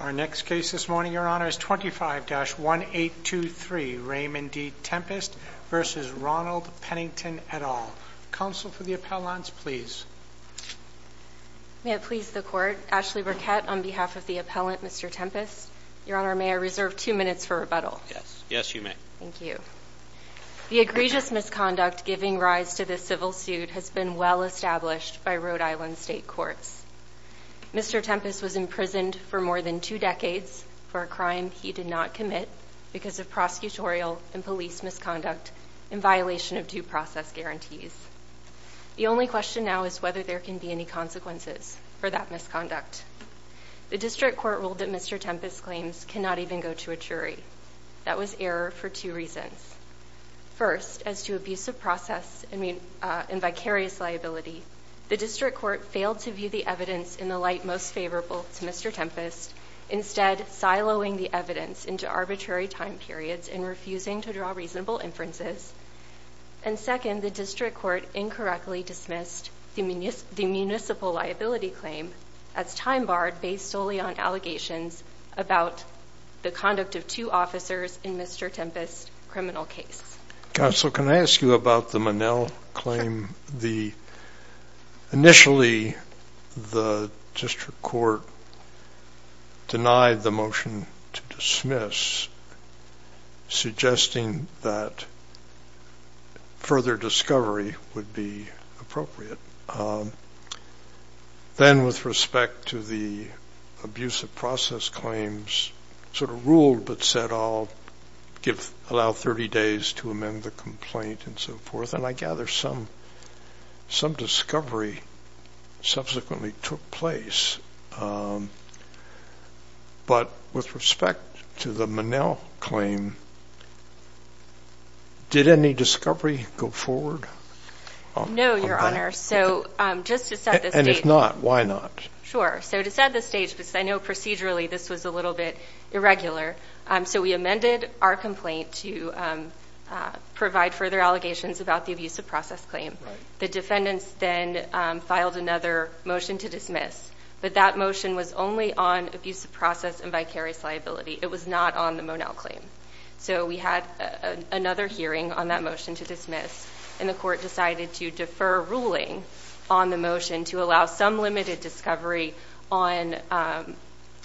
25-1823 Raymond D. Tempest v. Ronald Pennington et al. Counsel for the Appellants, please. May it please the Court, Ashley Burkett on behalf of the Appellant, Mr. Tempest. Your Honor, may I reserve two minutes for rebuttal? Yes, yes you may. Thank you. The egregious misconduct giving rise to this civil suit has been well established by Rhode Island state courts. Mr. Tempest was imprisoned for more than two decades for a crime he did not commit because of prosecutorial and police misconduct in violation of due process guarantees. The only question now is whether there can be any consequences for that misconduct. The district court ruled that Mr. Tempest's claims cannot even go to a jury. That was error for two reasons. First, as to abusive process and vicarious liability, the district court failed to view the evidence in the light most favorable to Mr. Tempest, instead siloing the evidence into arbitrary time periods and refusing to draw reasonable inferences. And second, the district court incorrectly dismissed the municipal liability claim as time-barred based solely on allegations about the conduct of two officers in Mr. Tempest's criminal case. Counsel, can I ask you about the Monell claim? Initially, the district court denied the motion to dismiss, suggesting that further discovery would be appropriate. Then, with respect to the abusive process claims, sort of ruled but said, I'll give allow 30 days to amend the complaint and so forth, and I gather some discovery subsequently took place. But with respect to the Monell claim, did any discovery go forward? No, Your Honor. And if not, why not? Sure. So to set the stage, because I know procedurally this was a little bit irregular, so we amended our complaint to provide further allegations about the abusive process claim. The defendants then filed another motion to dismiss, but that motion was only on abusive process and vicarious liability. It was not on the Monell claim. So we had another hearing on that motion to dismiss, and the court decided to defer ruling on the motion to allow some limited discovery on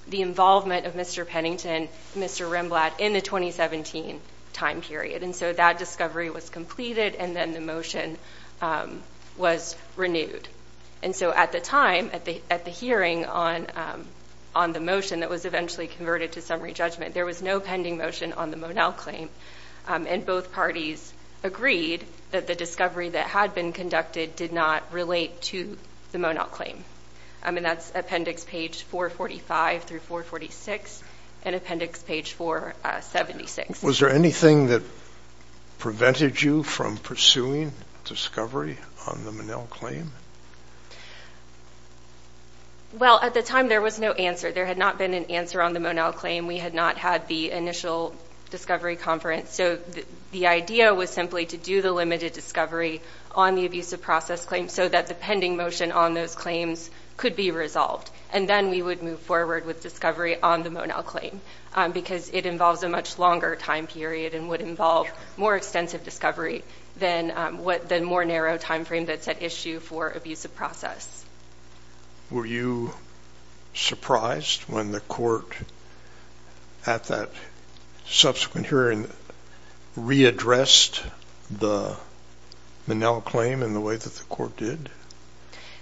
the involvement of Mr. Pennington and Mr. Rimblatt in the 2017 time period. And so that discovery was completed, and then the motion was renewed. And so at the time, at the hearing on the motion that was eventually converted to summary on the Monell claim, and both parties agreed that the discovery that had been conducted did not relate to the Monell claim. I mean, that's appendix page 445 through 446 and appendix page 476. Was there anything that prevented you from pursuing discovery on the Monell claim? Well, at the time, there was no answer. There had not been an answer on the Monell claim. We had not had the initial discovery conference. So the idea was simply to do the limited discovery on the abusive process claim so that the pending motion on those claims could be resolved. And then we would move forward with discovery on the Monell claim, because it involves a much longer time period and would involve more extensive discovery than what the more narrow time frame that's at issue for abusive process. Were you surprised when the court at that subsequent hearing readdressed the Monell claim in the way that the court did?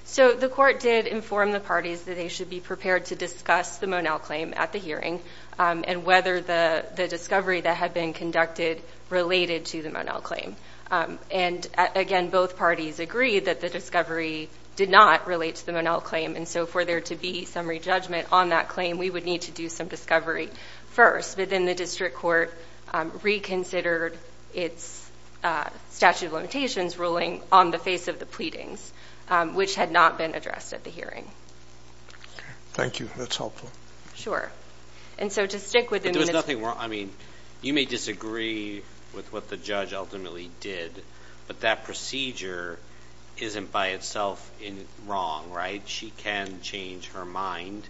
So the court did inform the parties that they should be prepared to discuss the Monell claim at the hearing and whether the discovery that had been conducted related to the Monell claim. And again, both parties agreed that the discovery did not relate to the Monell claim. And so for there to be some re-judgment on that claim, we would need to do some discovery first. But then the district court reconsidered its statute of limitations ruling on the face of the pleadings, which had not been addressed at the hearing. Thank you. That's helpful. Sure. And so to stick with the minutes... There's nothing wrong... I mean, you may disagree with what the judge ultimately did, but that procedure isn't by itself wrong, right? She can change her mind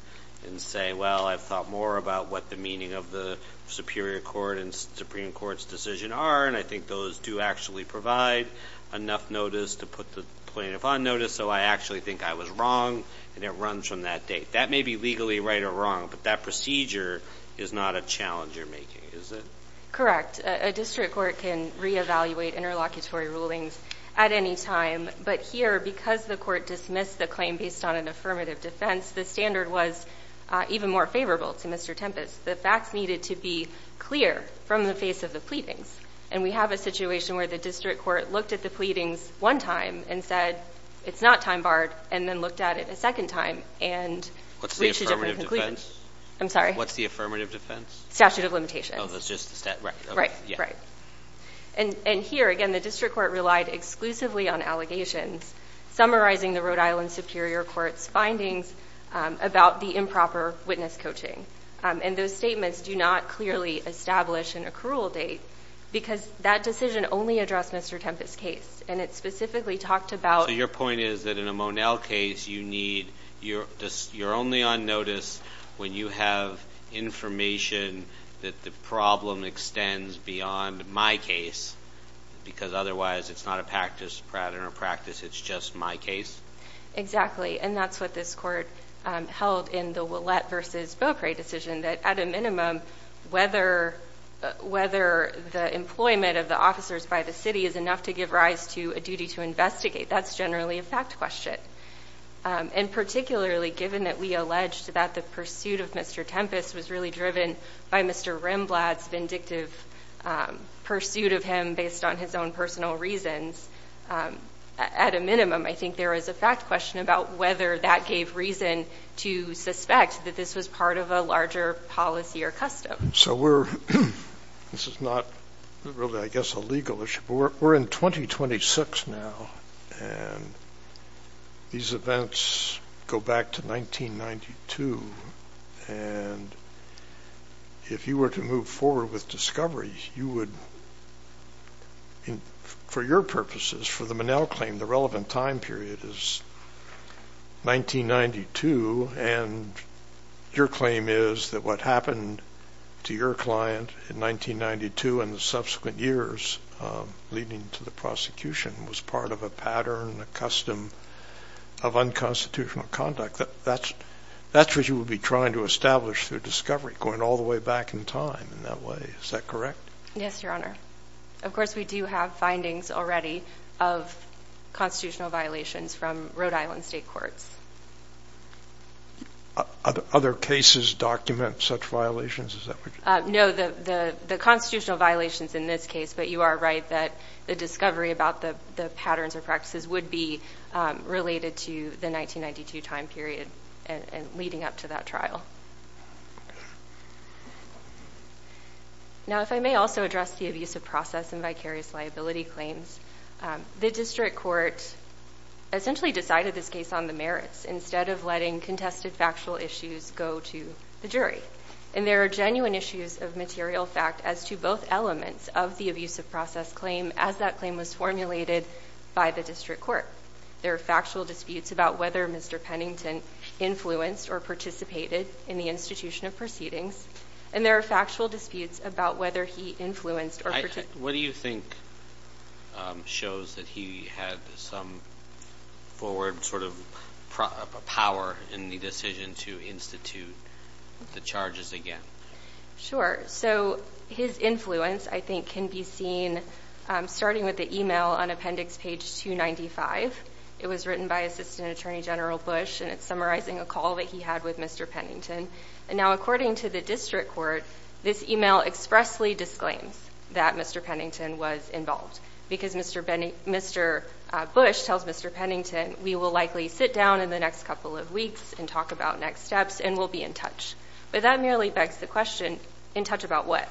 and say, well, I've thought more about what the meaning of the Superior Court and Supreme Court's decision are, and I think those do actually provide enough notice to put the plaintiff on notice, so I actually think I was wrong, and it runs from that date. That may be legally right or wrong, but that procedure is not a challenge you're making, is it? Correct. A district court can re-evaluate interlocutory rulings at any time, but here, because the court dismissed the claim based on an affirmative defense, the standard was even more favorable to Mr. Tempest. The facts needed to be clear from the face of the pleadings, and we have a situation where the district court looked at the pleadings one time and said, it's not time barred, and then looked at it a second time and reached a different conclusion. I'm sorry? What's the affirmative defense? Statute of limitations. Oh, that's just the statute, right. Yeah. Right. And here, again, the district court relied exclusively on allegations, summarizing the Rhode Island Superior Court's findings about the improper witness coaching, and those statements do not clearly establish an accrual date, because that decision only addressed Mr. Tempest's case, and it specifically talked about... So your point is that in a Monell case, you're only on notice when you have information that the problem extends beyond my case, because otherwise it's not a practice, it's just my case? Exactly. And that's what this court held in the Willette versus Beaucray decision, that at a minimum, whether the employment of the officers by the city is enough to give rise to a duty to investigate, that's generally a fact question. And particularly, given that we alleged that the pursuit of Mr. Tempest was really driven by Mr. Rimblad's vindictive pursuit of him based on his own personal reasons, at a minimum, I think there is a fact question about whether that gave reason to suspect that this was part of a larger policy or custom. So we're... This is not really, I guess, a legal issue, but we're in 2026 now, and these events go back to 1992, and if you were to move forward with discoveries, you would... For your purposes, for the Monell claim, the relevant time period is 1992, and your claim is that what happened to your client in 1992 and the subsequent years leading to the prosecution was part of a pattern, a custom of unconstitutional conduct. That's what you would be trying to establish through discovery, going all the way back in time in that way. Is that correct? Yes, Your Honor. Of course, we do have findings already of constitutional violations from Rhode Island state courts. Other cases document such violations, is that what you're... No, the constitutional violations in this case, but you are right that the discovery about the patterns or practices would be related to the 1992 time period and leading up to that trial. Now, if I may also address the abusive process and vicarious liability claims, the district court essentially decided this case on the merits instead of letting contested factual issues go to the jury, and there are genuine issues of material fact as to both elements of the abusive process claim as that claim was formulated by the district court. There are factual disputes about whether Mr. Pennington influenced or participated in the institution of proceedings, and there are factual disputes about whether he influenced or... What do you think shows that he had some forward power in the decision to institute the charges again? Sure. So his influence, I think, can be seen starting with the email on appendix page 295. It was written by Assistant Attorney General Bush, and it's summarizing a call that he had with Mr. Pennington, and now according to the district court, this email expressly disclaims that Mr. Pennington was involved because Mr. Bush tells Mr. Pennington, we will likely sit down in the next couple of weeks and talk about next steps and we'll be in touch, but that merely begs the question, in touch about what?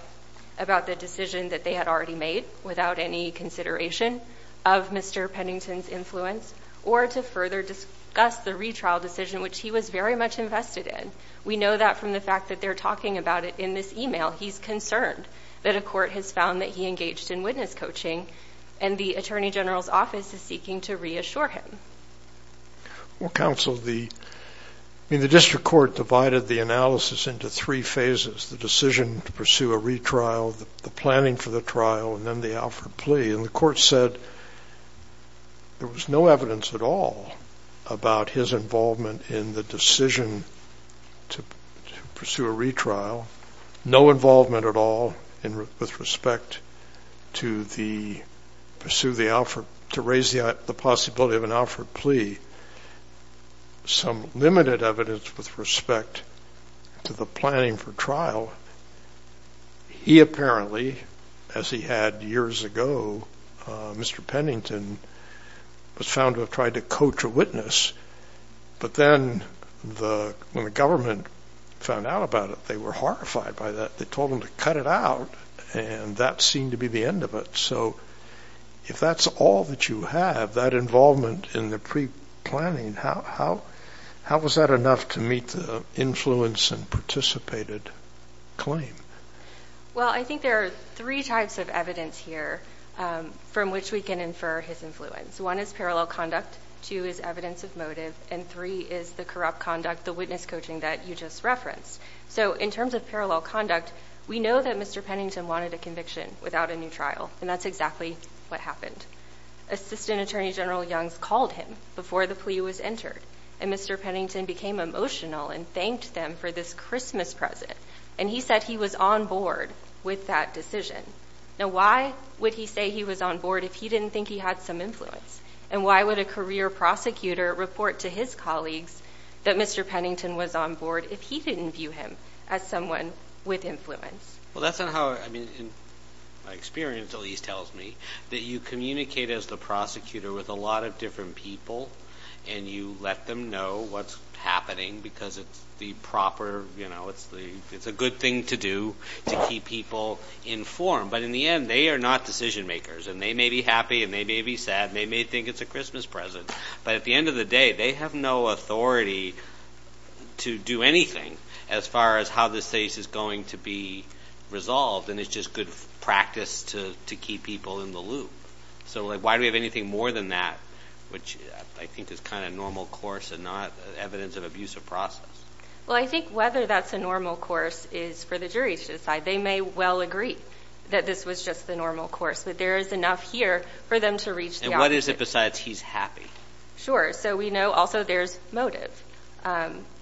About the decision that they had already made without any consideration of Mr. Pennington's influence or to further discuss the retrial decision, which he was very much invested in. We know that from the fact that they're talking about it in this email. He's concerned that a court has found that he engaged in witness coaching, and the Attorney General's office is seeking to reassure him. Well, counsel, the district court divided the analysis into three phases, the decision to pursue a retrial, the planning for the trial, and then the Alfred plea, and the court said there was no evidence at all about his involvement in the decision to pursue a retrial, no involvement at all with respect to the pursuit of the Alfred, to raise the possibility of an Alfred plea. Some limited evidence with respect to the planning for trial. He apparently, as he had years ago, Mr. Pennington was found to have tried to coach a witness, but then when the government found out about it, they were horrified by that. They told him to cut it out, and that seemed to be the end of it. So if that's all that you have, that involvement in the pre-planning, how was that enough to meet the influence and participated claim? Well, I think there are three types of evidence here from which we can infer his influence. One is parallel conduct, two is evidence of motive, and three is the corrupt conduct, the witness coaching that you just referenced. So in terms of parallel conduct, we know that Mr. Pennington wanted a conviction without a new trial, and that's exactly what happened. Assistant Attorney General Youngs called him before the plea was entered, and Mr. Pennington became emotional and thanked them for this Christmas present, and he said he was on board with that decision. Now, why would he say he was on board if he didn't think he had some influence? And why would a career prosecutor report to his colleagues that Mr. Pennington was on board if he didn't view him as someone with influence? Well, that's not how, I mean, my experience at least tells me that you communicate as the prosecutor with a lot of different people, and you let them know what's happening because it's the proper, you know, it's a good thing to do to keep people informed. But in the end, they are not decision-makers, and they may be happy and they may be sad and they may think it's a Christmas present, but at the end of the day, they have no authority to do anything as far as how this case is going to be resolved, and it's just good practice to keep people in the loop. So why do we have anything more than that, which I think is kind of normal course and not evidence of abusive process? Well, I think whether that's a normal course is for the jury to decide. They may well agree that this was just the normal course, but there is enough here for them to reach the opposite. And what is it besides he's happy? Sure. So we know also there's motive.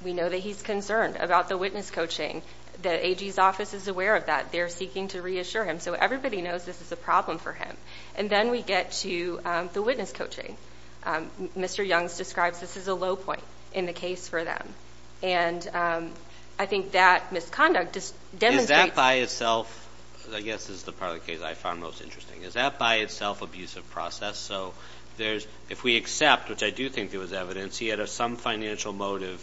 We know that he's concerned about the witness coaching, that AG's office is aware of that, they're seeking to reassure him, so everybody knows this is a problem for him. And then we get to the witness coaching. Mr. Youngs describes this as a low point in the case for them, and I think that misconduct just demonstrates- Is that by itself, I guess is the part of the case I found most interesting, is that by itself abusive process? So if we accept, which I do think there was evidence, he had some financial motive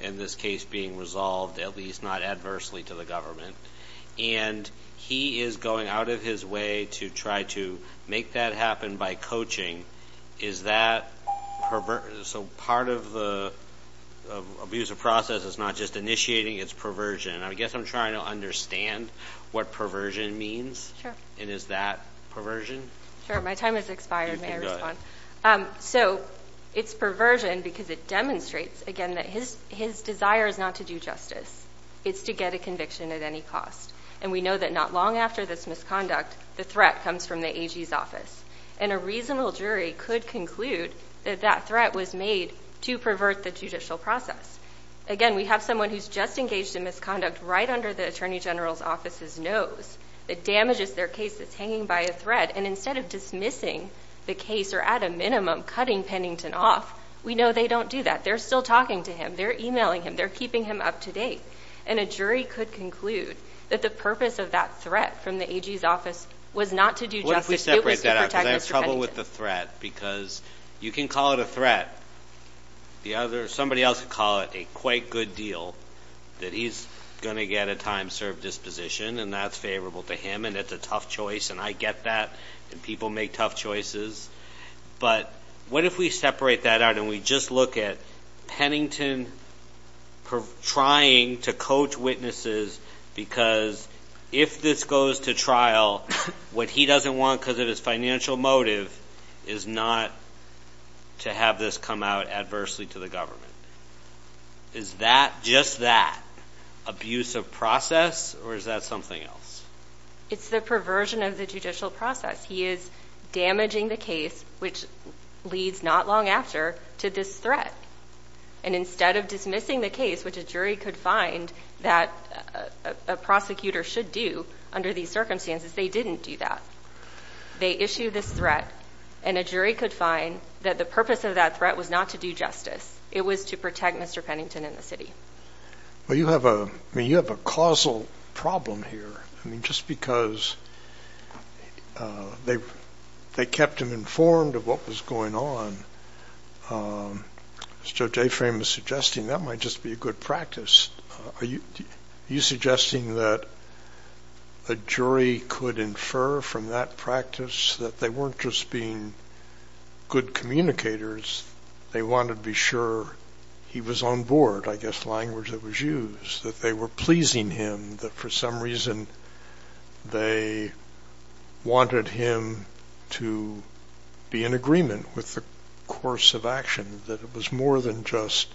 in this case being resolved, at least not adversely to the government, and he is going out of his way to try to make that happen by coaching, is that perversion? So part of the abusive process is not just initiating, it's perversion. I guess I'm trying to understand what perversion means, and is that perversion? Sure. My time has expired. May I respond? So it's perversion because it demonstrates, again, that his desire is not to do justice. It's to get a conviction at any cost. And we know that not long after this misconduct, the threat comes from the AG's office. And a reasonable jury could conclude that that threat was made to pervert the judicial process. Again, we have someone who's just engaged in misconduct right under the Attorney General's office's nose that damages their case that's hanging by a thread. And instead of dismissing the case, or at a minimum, cutting Pennington off, we know they don't do that. They're still talking to him. They're emailing him. They're keeping him up to date. And a jury could conclude that the purpose of that threat from the AG's office was not to do justice. It was to protect Mr. Pennington. Because I have trouble with the threat. Because you can call it a threat. Somebody else would call it a quite good deal, that he's going to get a time-served disposition, and that's favorable to him, and it's a tough choice, and I get that, and people make tough choices. But what if we separate that out and we just look at Pennington trying to coach witnesses because if this goes to trial, what he doesn't want because of his financial motive is not to have this come out adversely to the government. Is that, just that, abuse of process, or is that something else? It's the perversion of the judicial process. He is damaging the case, which leads not long after, to this threat. And instead of dismissing the case, which a jury could find that a prosecutor should do under these circumstances, they didn't do that. They issued this threat, and a jury could find that the purpose of that threat was not to do justice. It was to protect Mr. Pennington and the city. Well, you have a, I mean, you have a causal problem here. I mean, just because they kept him informed of what was going on, as Joe Jaframe is suggesting, that might just be a good practice. Are you suggesting that a jury could infer from that practice that they weren't just being good communicators? They wanted to be sure he was on board, I guess, the language that was used, that they were pleasing him, that for some reason they wanted him to be in agreement with the course of action, that it was more than just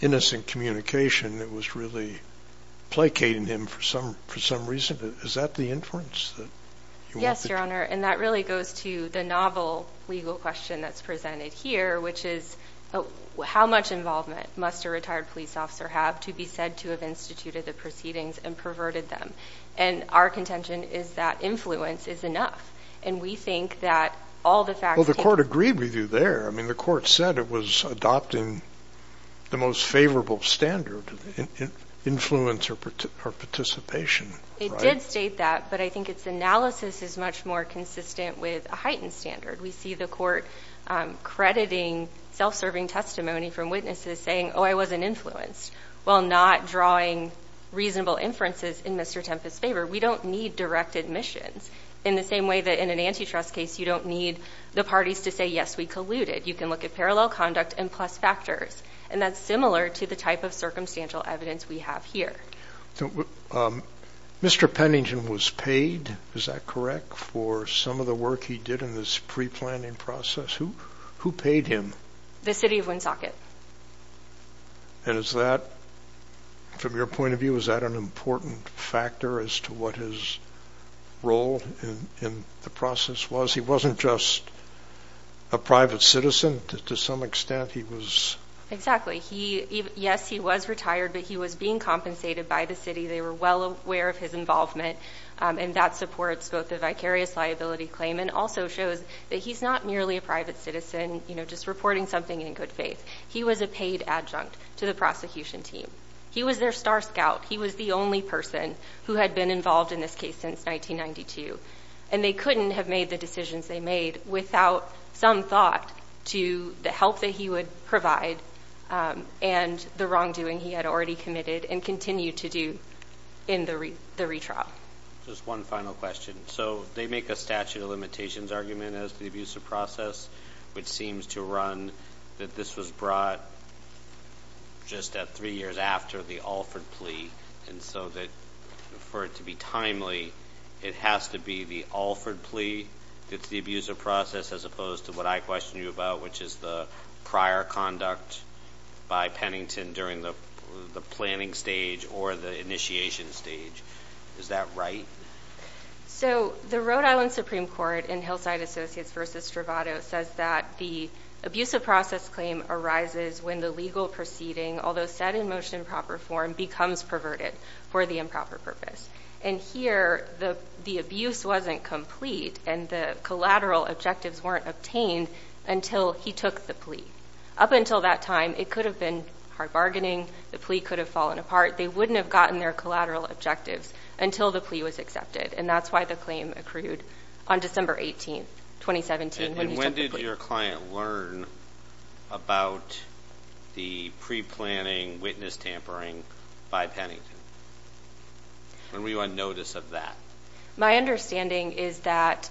innocent communication. It was really placating him for some reason. Is that the inference that you want to draw? Yes, Your Honor. And that really goes to the novel legal question that's presented here, which is, how much involvement must a retired police officer have to be said to have instituted the proceedings and perverted them? And our contention is that influence is enough. And we think that all the facts... Well, the court agreed with you there. I mean, the court said it was adopting the most favorable standard, influence or participation. It did state that, but I think its analysis is much more consistent with a heightened standard. We see the court crediting self-serving testimony from witnesses saying, oh, I wasn't influenced, while not drawing reasonable inferences in Mr. Tempest's favor. We don't need direct admissions in the same way that in an antitrust case, you don't need the parties to say, yes, we colluded. You can look at parallel conduct and plus factors. And that's similar to the type of circumstantial evidence we have here. So, Mr. Pennington was paid, is that correct, for some of the work he did in this pre-planning process? Who paid him? The city of Woonsocket. And is that, from your point of view, is that an important factor as to what his role in the process was? He wasn't just a private citizen. To some extent, he was... Exactly. Yes, he was retired, but he was being compensated by the city. They were well aware of his involvement, and that supports both the vicarious liability claim and also shows that he's not merely a private citizen, you know, just reporting something in good faith. He was a paid adjunct to the prosecution team. He was their star scout. He was the only person who had been involved in this case since 1992. And they couldn't have made the decisions they made without some thought to the help that he would provide and the wrongdoing he had already committed and continued to do in the retrial. Just one final question. So they make a statute of limitations argument as to the abuse of process, which seems to run that this was brought just at three years after the Alford plea, and so that for it to be timely, it has to be the Alford plea that's the abuse of process as opposed to what I questioned you about, which is the prior conduct by Pennington during the planning stage or the initiation stage. Is that right? So the Rhode Island Supreme Court in Hillside Associates v. Stravato says that the abuse of process claim arises when the legal proceeding, although set in most improper form, becomes perverted for the improper purpose. And here, the abuse wasn't complete and the collateral objectives weren't obtained until he took the plea. Up until that time, it could have been hard bargaining. The plea could have fallen apart. They wouldn't have gotten their collateral objectives until the plea was accepted. And that's why the claim accrued on December 18, 2017, when he took the plea. And when did your client learn about the pre-planning witness tampering by Pennington? When were you on notice of that? My understanding is that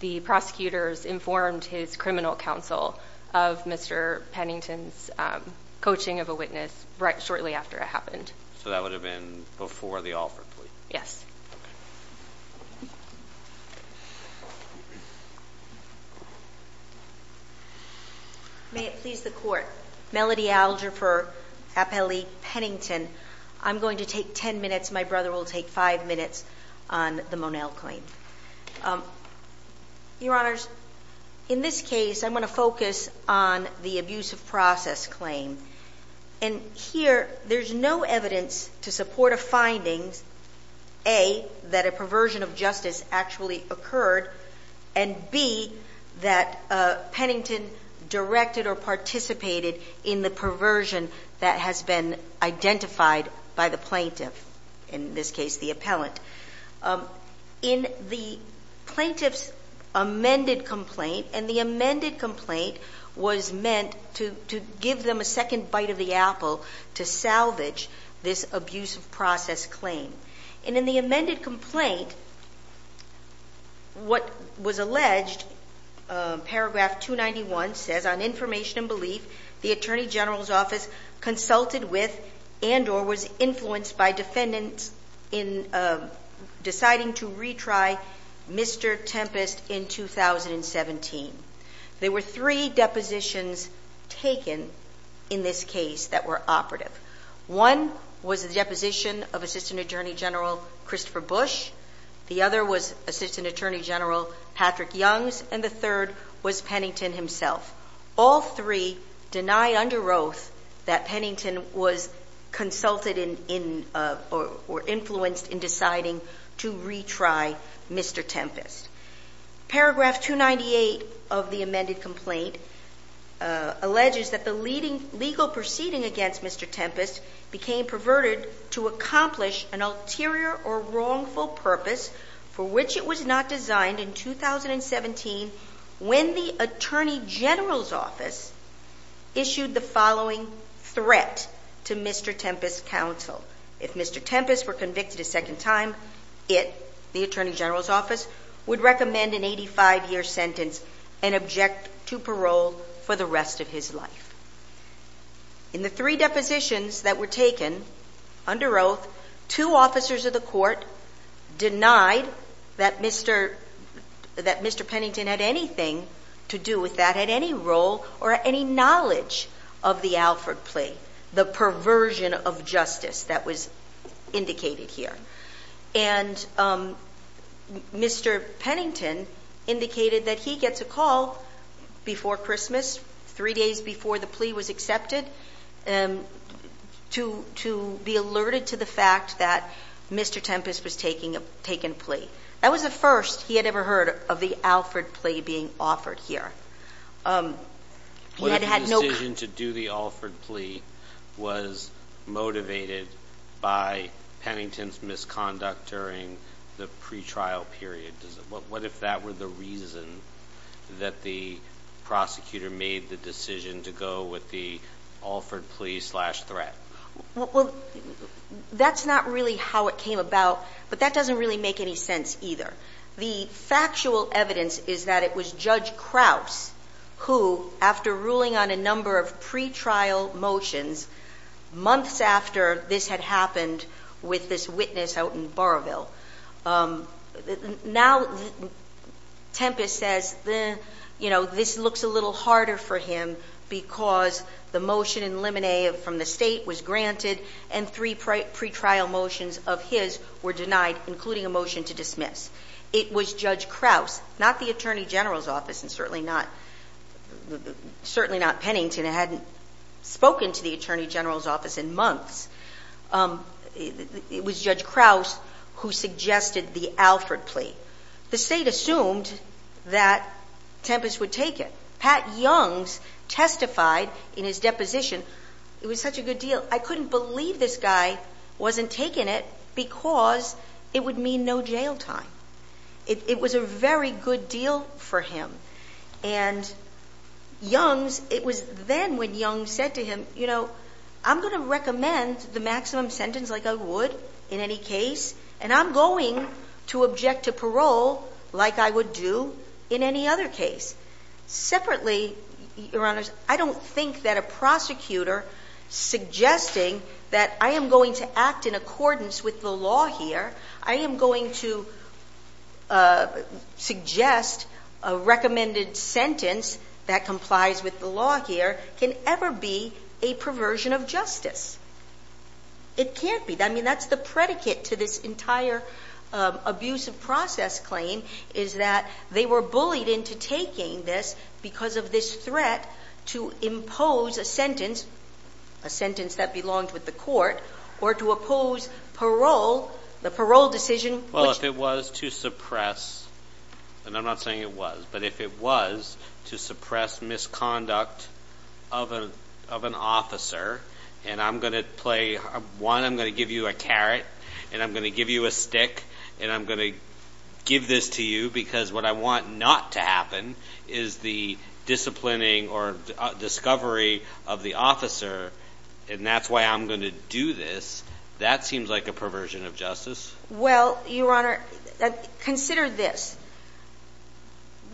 the prosecutors informed his criminal counsel of Mr. Pennington's coaching of a witness right shortly after it happened. So that would have been before the Alford plea? Yes. May it please the Court. Melody Alger for Appellee Pennington. I'm going to take 10 minutes. My brother will take five minutes on the Monel claim. Your Honors, in this case, I'm going to focus on the abuse of process claim. And here, there's no evidence to support a finding, A, that a perversion of justice actually occurred, and B, that Pennington directed or participated in the perversion that has been identified by the plaintiff, in this case, the appellant. In the plaintiff's amended complaint, and the amended complaint was meant to give them a second bite of the apple to salvage this abuse of process claim. And in the amended complaint, what was alleged, paragraph 291 says, on information and belief, the Attorney General's office consulted with and or was influenced by defendants in deciding to retry Mr. Tempest in 2017. There were three depositions taken in this case that were operative. One was the deposition of Assistant Attorney General Christopher Bush. The other was Assistant Attorney General Patrick Youngs, and the third was Pennington himself. All three deny under oath that Pennington was consulted in or influenced in deciding to retry Mr. Tempest. Paragraph 298 of the amended complaint alleges that the legal proceeding against Mr. Tempest became perverted to accomplish an ulterior or wrongful purpose for which it was not designed in 2017 when the Attorney General's office issued the following threat to Mr. Tempest's parole. If Mr. Tempest were convicted a second time, it, the Attorney General's office, would recommend an 85-year sentence and object to parole for the rest of his life. In the three depositions that were taken under oath, two officers of the court denied that Mr. Pennington had anything to do with that, had any role or any knowledge of the Alford plea, the perversion of justice that was indicated here. And Mr. Pennington indicated that he gets a call before Christmas, three days before the plea was accepted, to be alerted to the fact that Mr. Tempest was taking a plea. That was the first he had ever heard of the Alford plea being offered here. He had had no – What if the decision to do the Alford plea was motivated by Pennington's misconduct during the pretrial period? What if that were the reason that the prosecutor made the decision to go with the Alford plea slash threat? Well, that's not really how it came about, but that doesn't really make any sense either. The factual evidence is that it was Judge Krause who, after ruling on a number of pretrial motions months after this had happened with this witness out in Boroughville, now Tempest says, you know, this looks a little harder for him because the motion in limine from the state was granted, and three pretrial motions of his were denied, including a motion to dismiss. It was Judge Krause, not the Attorney General's office, and certainly not Pennington, who hadn't spoken to the Attorney General's office in months. It was Judge Krause who suggested the Alford plea. The state assumed that Tempest would take it. Pat Youngs testified in his deposition, it was such a good deal, I couldn't believe this guy wasn't taking it because it would mean no jail time. It was a very good deal for him, and Youngs, it was then when Youngs said to him, you know, I'm going to recommend the maximum sentence like I would in any case, and I'm going to object to parole like I would do in any other case. Separately, Your Honors, I don't think that a prosecutor suggesting that I am going to act in accordance with the law here, I am going to suggest a recommended sentence that complies with the law here, can ever be a perversion of justice. It can't be. I mean, that's the predicate to this entire abuse of process claim is that they were bullied into taking this because of this threat to impose a sentence, a sentence that belonged with the court, or to oppose parole, the parole decision. Well, if it was to suppress, and I'm not saying it was, but if it was to suppress misconduct of an officer, and I'm going to play, one, I'm going to give you a carrot, and I'm going to give this to you because what I want not to happen is the disciplining or discovery of the officer, and that's why I'm going to do this, that seems like a perversion of justice. Well, Your Honor, consider this.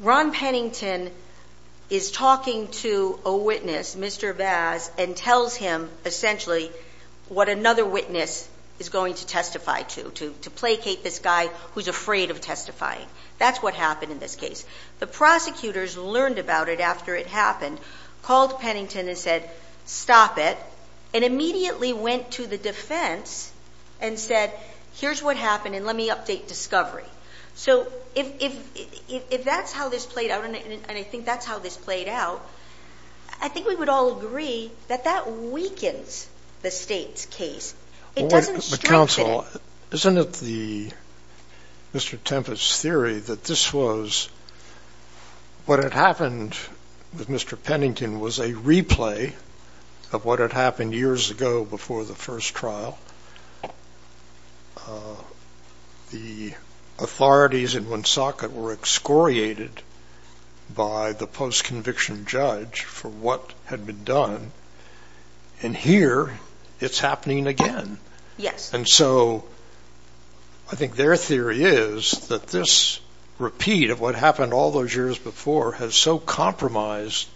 Ron Pennington is talking to a witness, Mr. Vaz, and tells him essentially what another witness is going to testify to, to placate this guy who's afraid of testifying. That's what happened in this case. The prosecutors learned about it after it happened, called Pennington and said, stop it, and immediately went to the defense and said, here's what happened, and let me update discovery. So if that's how this played out, and I think that's how this played out, I think we would all agree that that weakens the State's case. It doesn't strengthen it. Well, Counsel, isn't it the, Mr. Tempest's theory that this was, what had happened with Mr. Pennington was a replay of what had happened years ago before the first trial? The authorities in Woonsocket were excoriated by the post-conviction judge for what had been done, and here it's happening again. And so I think their theory is that this repeat of what happened all those years before has so compromised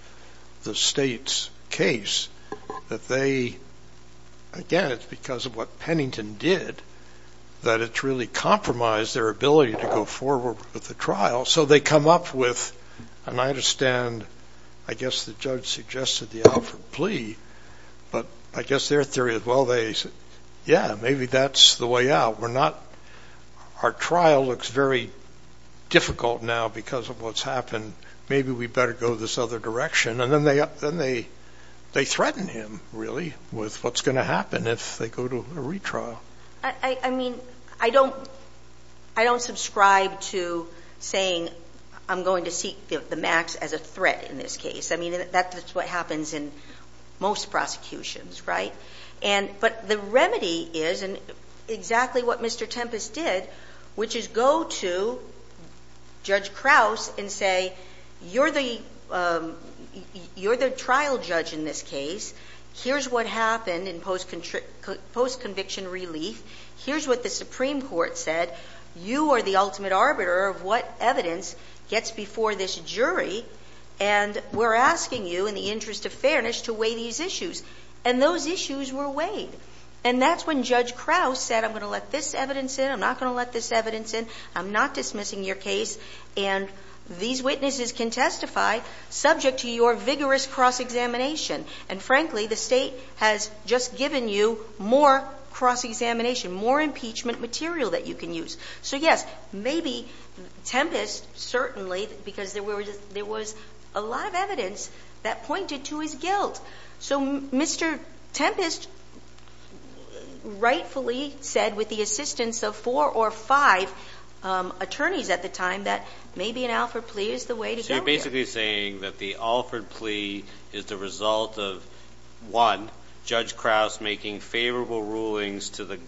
the State's case that they, again, it's because of what Pennington did that it's really compromised their ability to go forward with the trial. So they come up with, and I understand, I guess the judge suggested the Alford plea, but I guess their theory is, well, they said, yeah, maybe that's the way out. Our trial looks very difficult now because of what's happened. Maybe we better go this other direction, and then they threaten him, really, with what's going to happen if they go to a retrial. I mean, I don't subscribe to saying I'm going to seek the max as a threat in this case. I mean, that's what happens in most prosecutions, right? But the remedy is exactly what Mr. Tempest did, which is go to Judge Krause and say, you're the trial judge in this case. Here's what happened in post-conviction relief. Here's what the Supreme Court said. You are the ultimate arbiter of what evidence gets before this jury, and we're asking you, in the interest of fairness, to weigh these issues. And those issues were weighed. And that's when Judge Krause said, I'm going to let this evidence in, I'm not going to let this evidence in, I'm not dismissing your case, and these witnesses can testify subject to your vigorous cross-examination. And frankly, the state has just given you more cross-examination, more impeachment material that you can use. So yes, maybe Tempest certainly, because there was a lot of evidence that pointed to his guilt. So Mr. Tempest rightfully said, with the assistance of four or five attorneys at the time, that maybe an Alford plea is the way to go here. You're basically saying that the Alford plea is the result of, one, Judge Krause making favorable rulings to the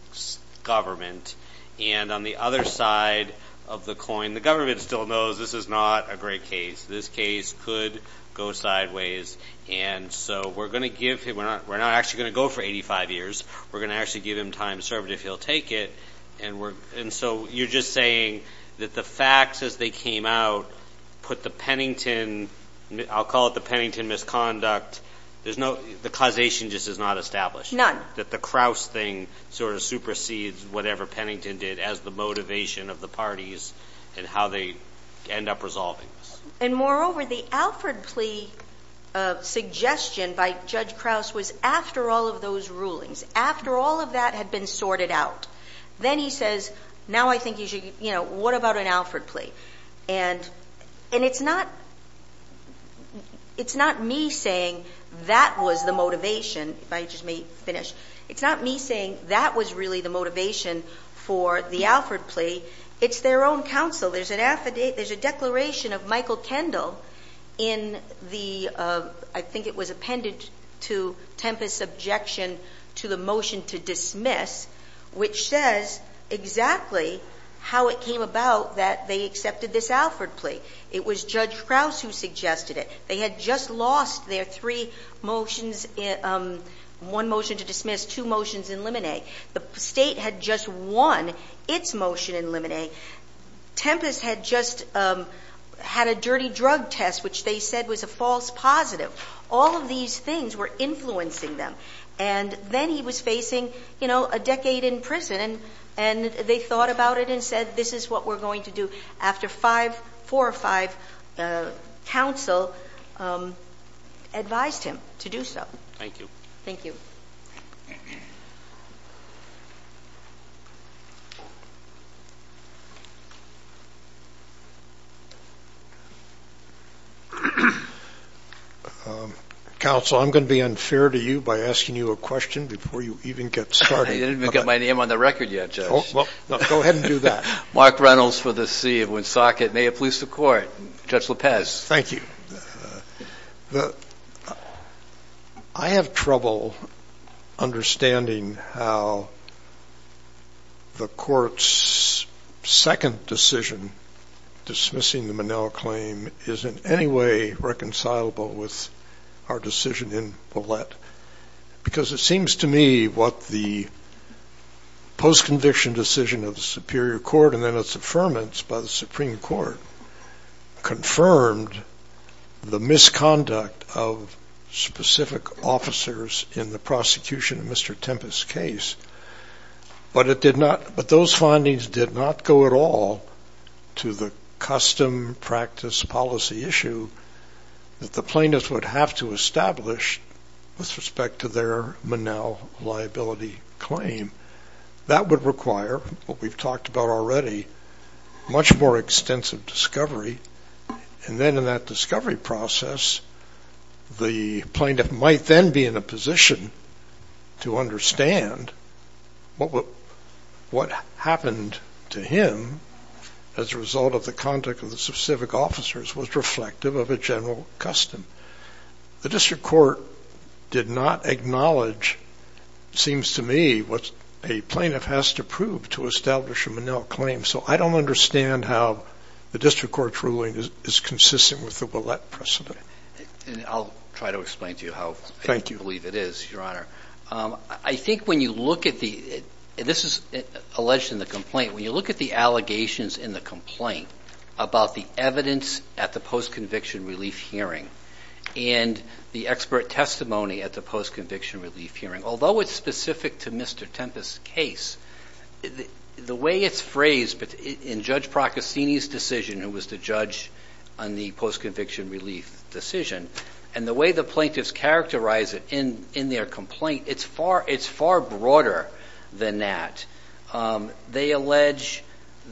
government, and on the other side of the coin, the government still knows this is not a great case. This case could go sideways. And so we're going to give him, we're not actually going to go for 85 years, we're going to actually give him time to serve it if he'll take it. And so you're just saying that the facts as they came out put the Pennington, I'll call it the Pennington misconduct, there's no, the causation just is not established. That the Krause thing sort of supersedes whatever Pennington did as the motivation of the parties and how they end up resolving this. And moreover, the Alford plea suggestion by Judge Krause was after all of those rulings, after all of that had been sorted out, then he says, now I think you should, you know, what about an Alford plea? And it's not, it's not me saying that was the motivation, if I just may finish. It's not me saying that was really the motivation for the Alford plea. It's their own counsel. There's an affidavit, there's a declaration of Michael Kendall in the, I think it was appended to Tempest's objection to the motion to dismiss, which says exactly how it came about that they accepted this Alford plea. It was Judge Krause who suggested it. They had just lost their three motions, one motion to dismiss, two motions in limine. The state had just won its motion in limine. Tempest had just had a dirty drug test, which they said was a false positive. All of these things were influencing them. And then he was facing, you know, a decade in prison. And they thought about it and said, this is what we're going to do. After four or five counsel advised him to do so. Thank you. Thank you. Counsel, I'm going to be unfair to you by asking you a question before you even get started. I didn't even get my name on the record yet, Judge. Well, go ahead and do that. Mark Reynolds for the city of Woonsocket. May it please the court. Judge Lopez. Thank you. I have trouble understanding how the court's second decision, dismissing the Manel claim, is in any way reconcilable with our decision in Ouellette. Because it seems to me what the post-conviction decision of the Superior Court and then its affirmance by the Supreme Court confirmed the misconduct of specific officers in the prosecution of Mr. Tempest's case. But it did not, but those findings did not go at all to the custom practice policy issue that the plaintiffs would have to establish with respect to their Manel liability claim. That would require what we've talked about already, much more extensive discovery. And then in that discovery process, the plaintiff might then be in a position to understand what happened to him as a result of the conduct of the specific officers was reflective of a general custom. The district court did not acknowledge, it seems to me, what a plaintiff has to prove to establish a Manel claim, so I don't understand how the district court's ruling is consistent with the Ouellette precedent. And I'll try to explain to you how I believe it is, Your Honor. I think when you look at the, and this is alleged in the complaint, when you look at the allegations in the complaint about the evidence at the post-conviction relief hearing and the expert testimony at the post-conviction relief hearing, although it's specific to Mr. Tempest's case, the way it's phrased in Judge Procaccini's decision who was the judge on the post-conviction relief decision, and the way the plaintiffs characterize it in their complaint, it's far broader than that. They allege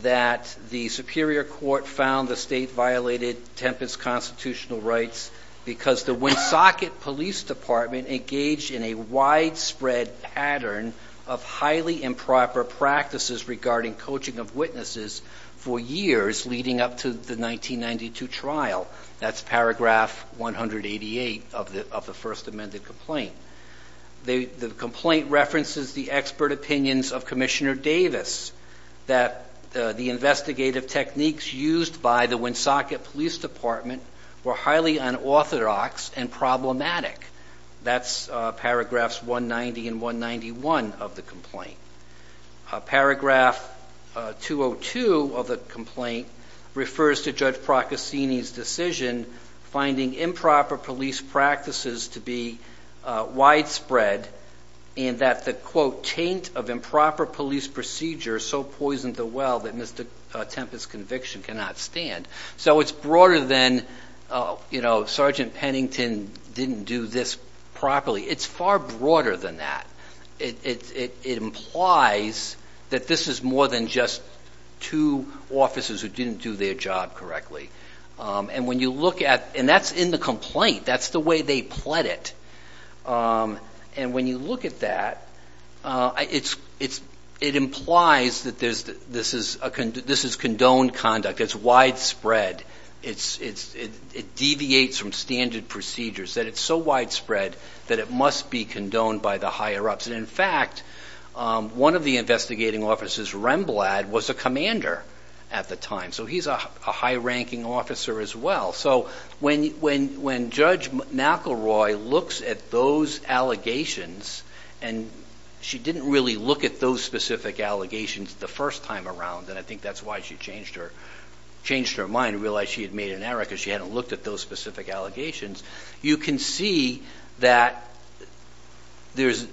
that the superior court found the state violated Tempest's constitutional rights because the Woonsocket Police Department engaged in a widespread pattern of highly improper practices regarding coaching of witnesses for years leading up to the 1992 trial, that's paragraph 188 of the first amended complaint. The complaint references the expert opinions of Commissioner Davis that the investigative techniques used by the Woonsocket Police Department were highly unorthodox and problematic. That's paragraphs 190 and 191 of the complaint. Paragraph 202 of the complaint refers to Judge Procaccini's decision, finding improper police practices to be widespread and that the, quote, taint of improper police procedure so poisoned the well that Mr. Tempest's conviction cannot stand. So it's broader than, you know, Sergeant Pennington didn't do this properly. It's far broader than that. It implies that this is more than just two officers who didn't do their job correctly. And when you look at, and that's in the complaint, that's the way they pled it. And when you look at that, it implies that this is condoned conduct, it's widespread. It deviates from standard procedures, that it's so widespread that it must be condoned by the higher-ups. And in fact, one of the investigating officers, Remblad, was a commander at the time. So he's a high-ranking officer as well. So when Judge McElroy looks at those allegations and she didn't really look at those specific allegations the first time around, and I think that's why she changed her mind, realized she had made an error because she hadn't looked at those specific allegations, you can see that there's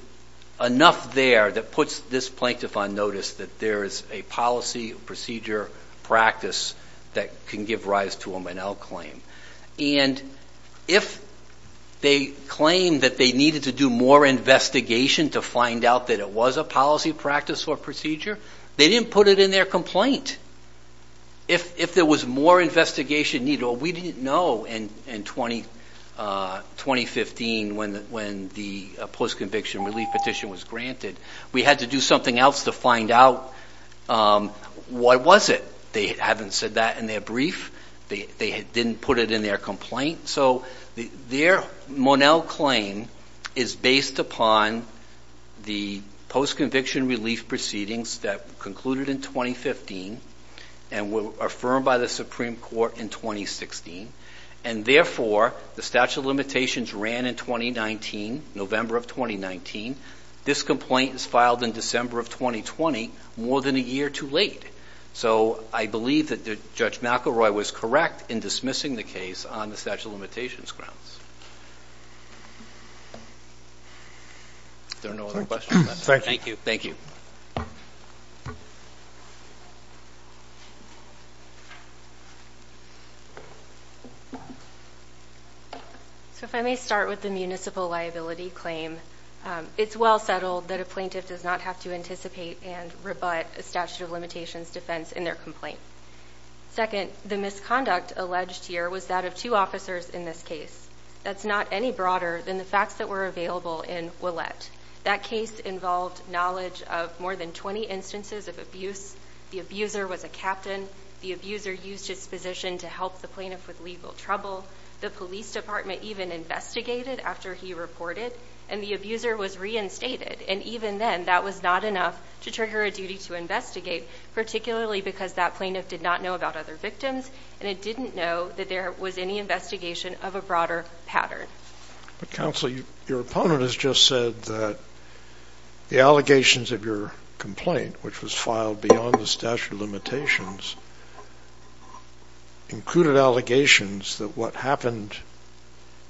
enough there that puts this plaintiff on notice that there is a policy, procedure, practice that can give rise to a Manel claim. And if they claim that they needed to do more investigation to find out that it was a policy, practice, or procedure, they didn't put it in their complaint. And if there was more investigation needed, or we didn't know in 2015 when the post-conviction relief petition was granted, we had to do something else to find out what was it. They haven't said that in their brief. They didn't put it in their complaint. So their Manel claim is based upon the post-conviction relief proceedings that concluded in 2015 and were affirmed by the Supreme Court in 2016. And therefore, the statute of limitations ran in 2019, November of 2019. This complaint is filed in December of 2020, more than a year too late. So I believe that Judge McElroy was correct in dismissing the case on the statute of limitations grounds. If there are no other questions, I'm sorry. Thank you. Thank you. So if I may start with the municipal liability claim, it's well settled that a plaintiff does not have to anticipate and rebut a statute of limitations defense in their complaint. Second, the misconduct alleged here was that of two officers in this case. That's not any broader than the facts that were available in Ouellette. That case involved knowledge of more than 20 instances of abuse. The abuser was a captain. The abuser used his position to help the plaintiff with legal trouble. The police department even investigated after he reported. And the abuser was reinstated. And even then, that was not enough to trigger a duty to investigate, particularly because that plaintiff did not know about other victims. And it didn't know that there was any investigation of a broader pattern. But counsel, your opponent has just said that the allegations of your complaint, which was filed beyond the statute of limitations, included allegations that what happened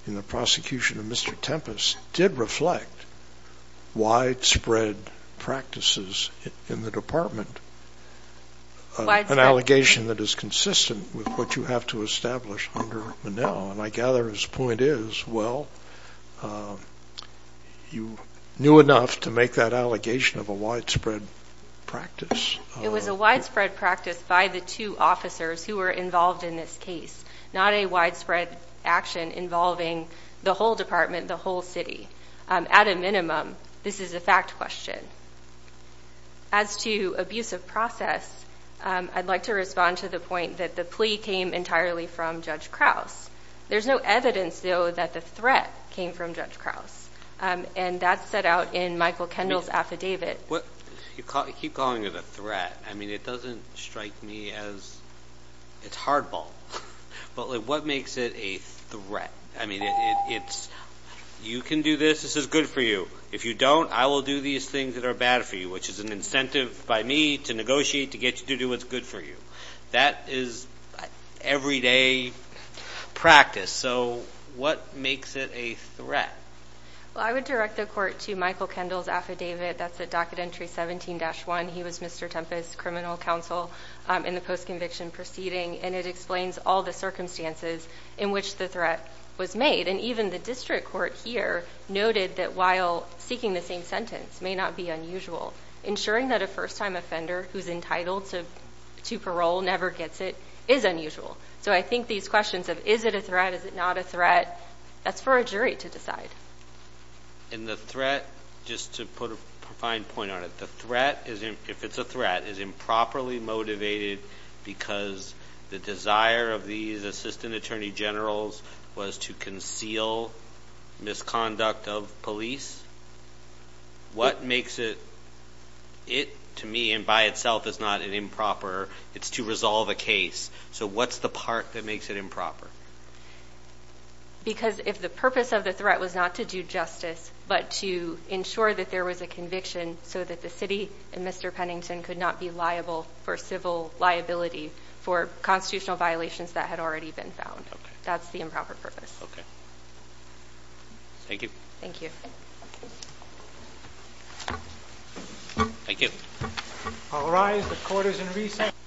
in the prosecution of Mr. Tempest did reflect widespread practices in the department, an allegation that is consistent with what you have to establish under Monell. And I gather his point is, well, you knew enough to make that allegation of a widespread practice. It was a widespread practice by the two officers who were involved in this case, not a widespread action involving the whole department, the whole city. At a minimum, this is a fact question. As to abuse of process, I'd like to respond to the point that the plea came entirely from Judge Krause. There's no evidence, though, that the threat came from Judge Krause. And that's set out in Michael Kendall's affidavit. What, you keep calling it a threat. I mean, it doesn't strike me as, it's hardball. But what makes it a threat? I mean, it's, you can do this, this is good for you. If you don't, I will do these things that are bad for you, which is an incentive by me to negotiate to get you to do what's good for you. That is everyday practice. So what makes it a threat? Well, I would direct the court to Michael Kendall's affidavit. That's at docket entry 17-1. He was Mr. Tempest's criminal counsel in the post-conviction proceeding. And it explains all the circumstances in which the threat was made. And even the district court here noted that while seeking the same sentence may not be unusual. Ensuring that a first time offender who's entitled to parole never gets it is unusual. So I think these questions of is it a threat, is it not a threat, that's for a jury to decide. In the threat, just to put a fine point on it. The threat, if it's a threat, is improperly motivated because the desire of these assistant attorney generals was to conceal misconduct of police. What makes it, it to me, and by itself is not an improper, it's to resolve a case. So what's the part that makes it improper? Because if the purpose of the threat was not to do justice, but to ensure that there was a conviction so that the city and Mr. Pennington could not be liable for civil liability for constitutional violations that had already been found. That's the improper purpose. Okay, thank you. Thank you. Thank you. All rise, the court is in recess.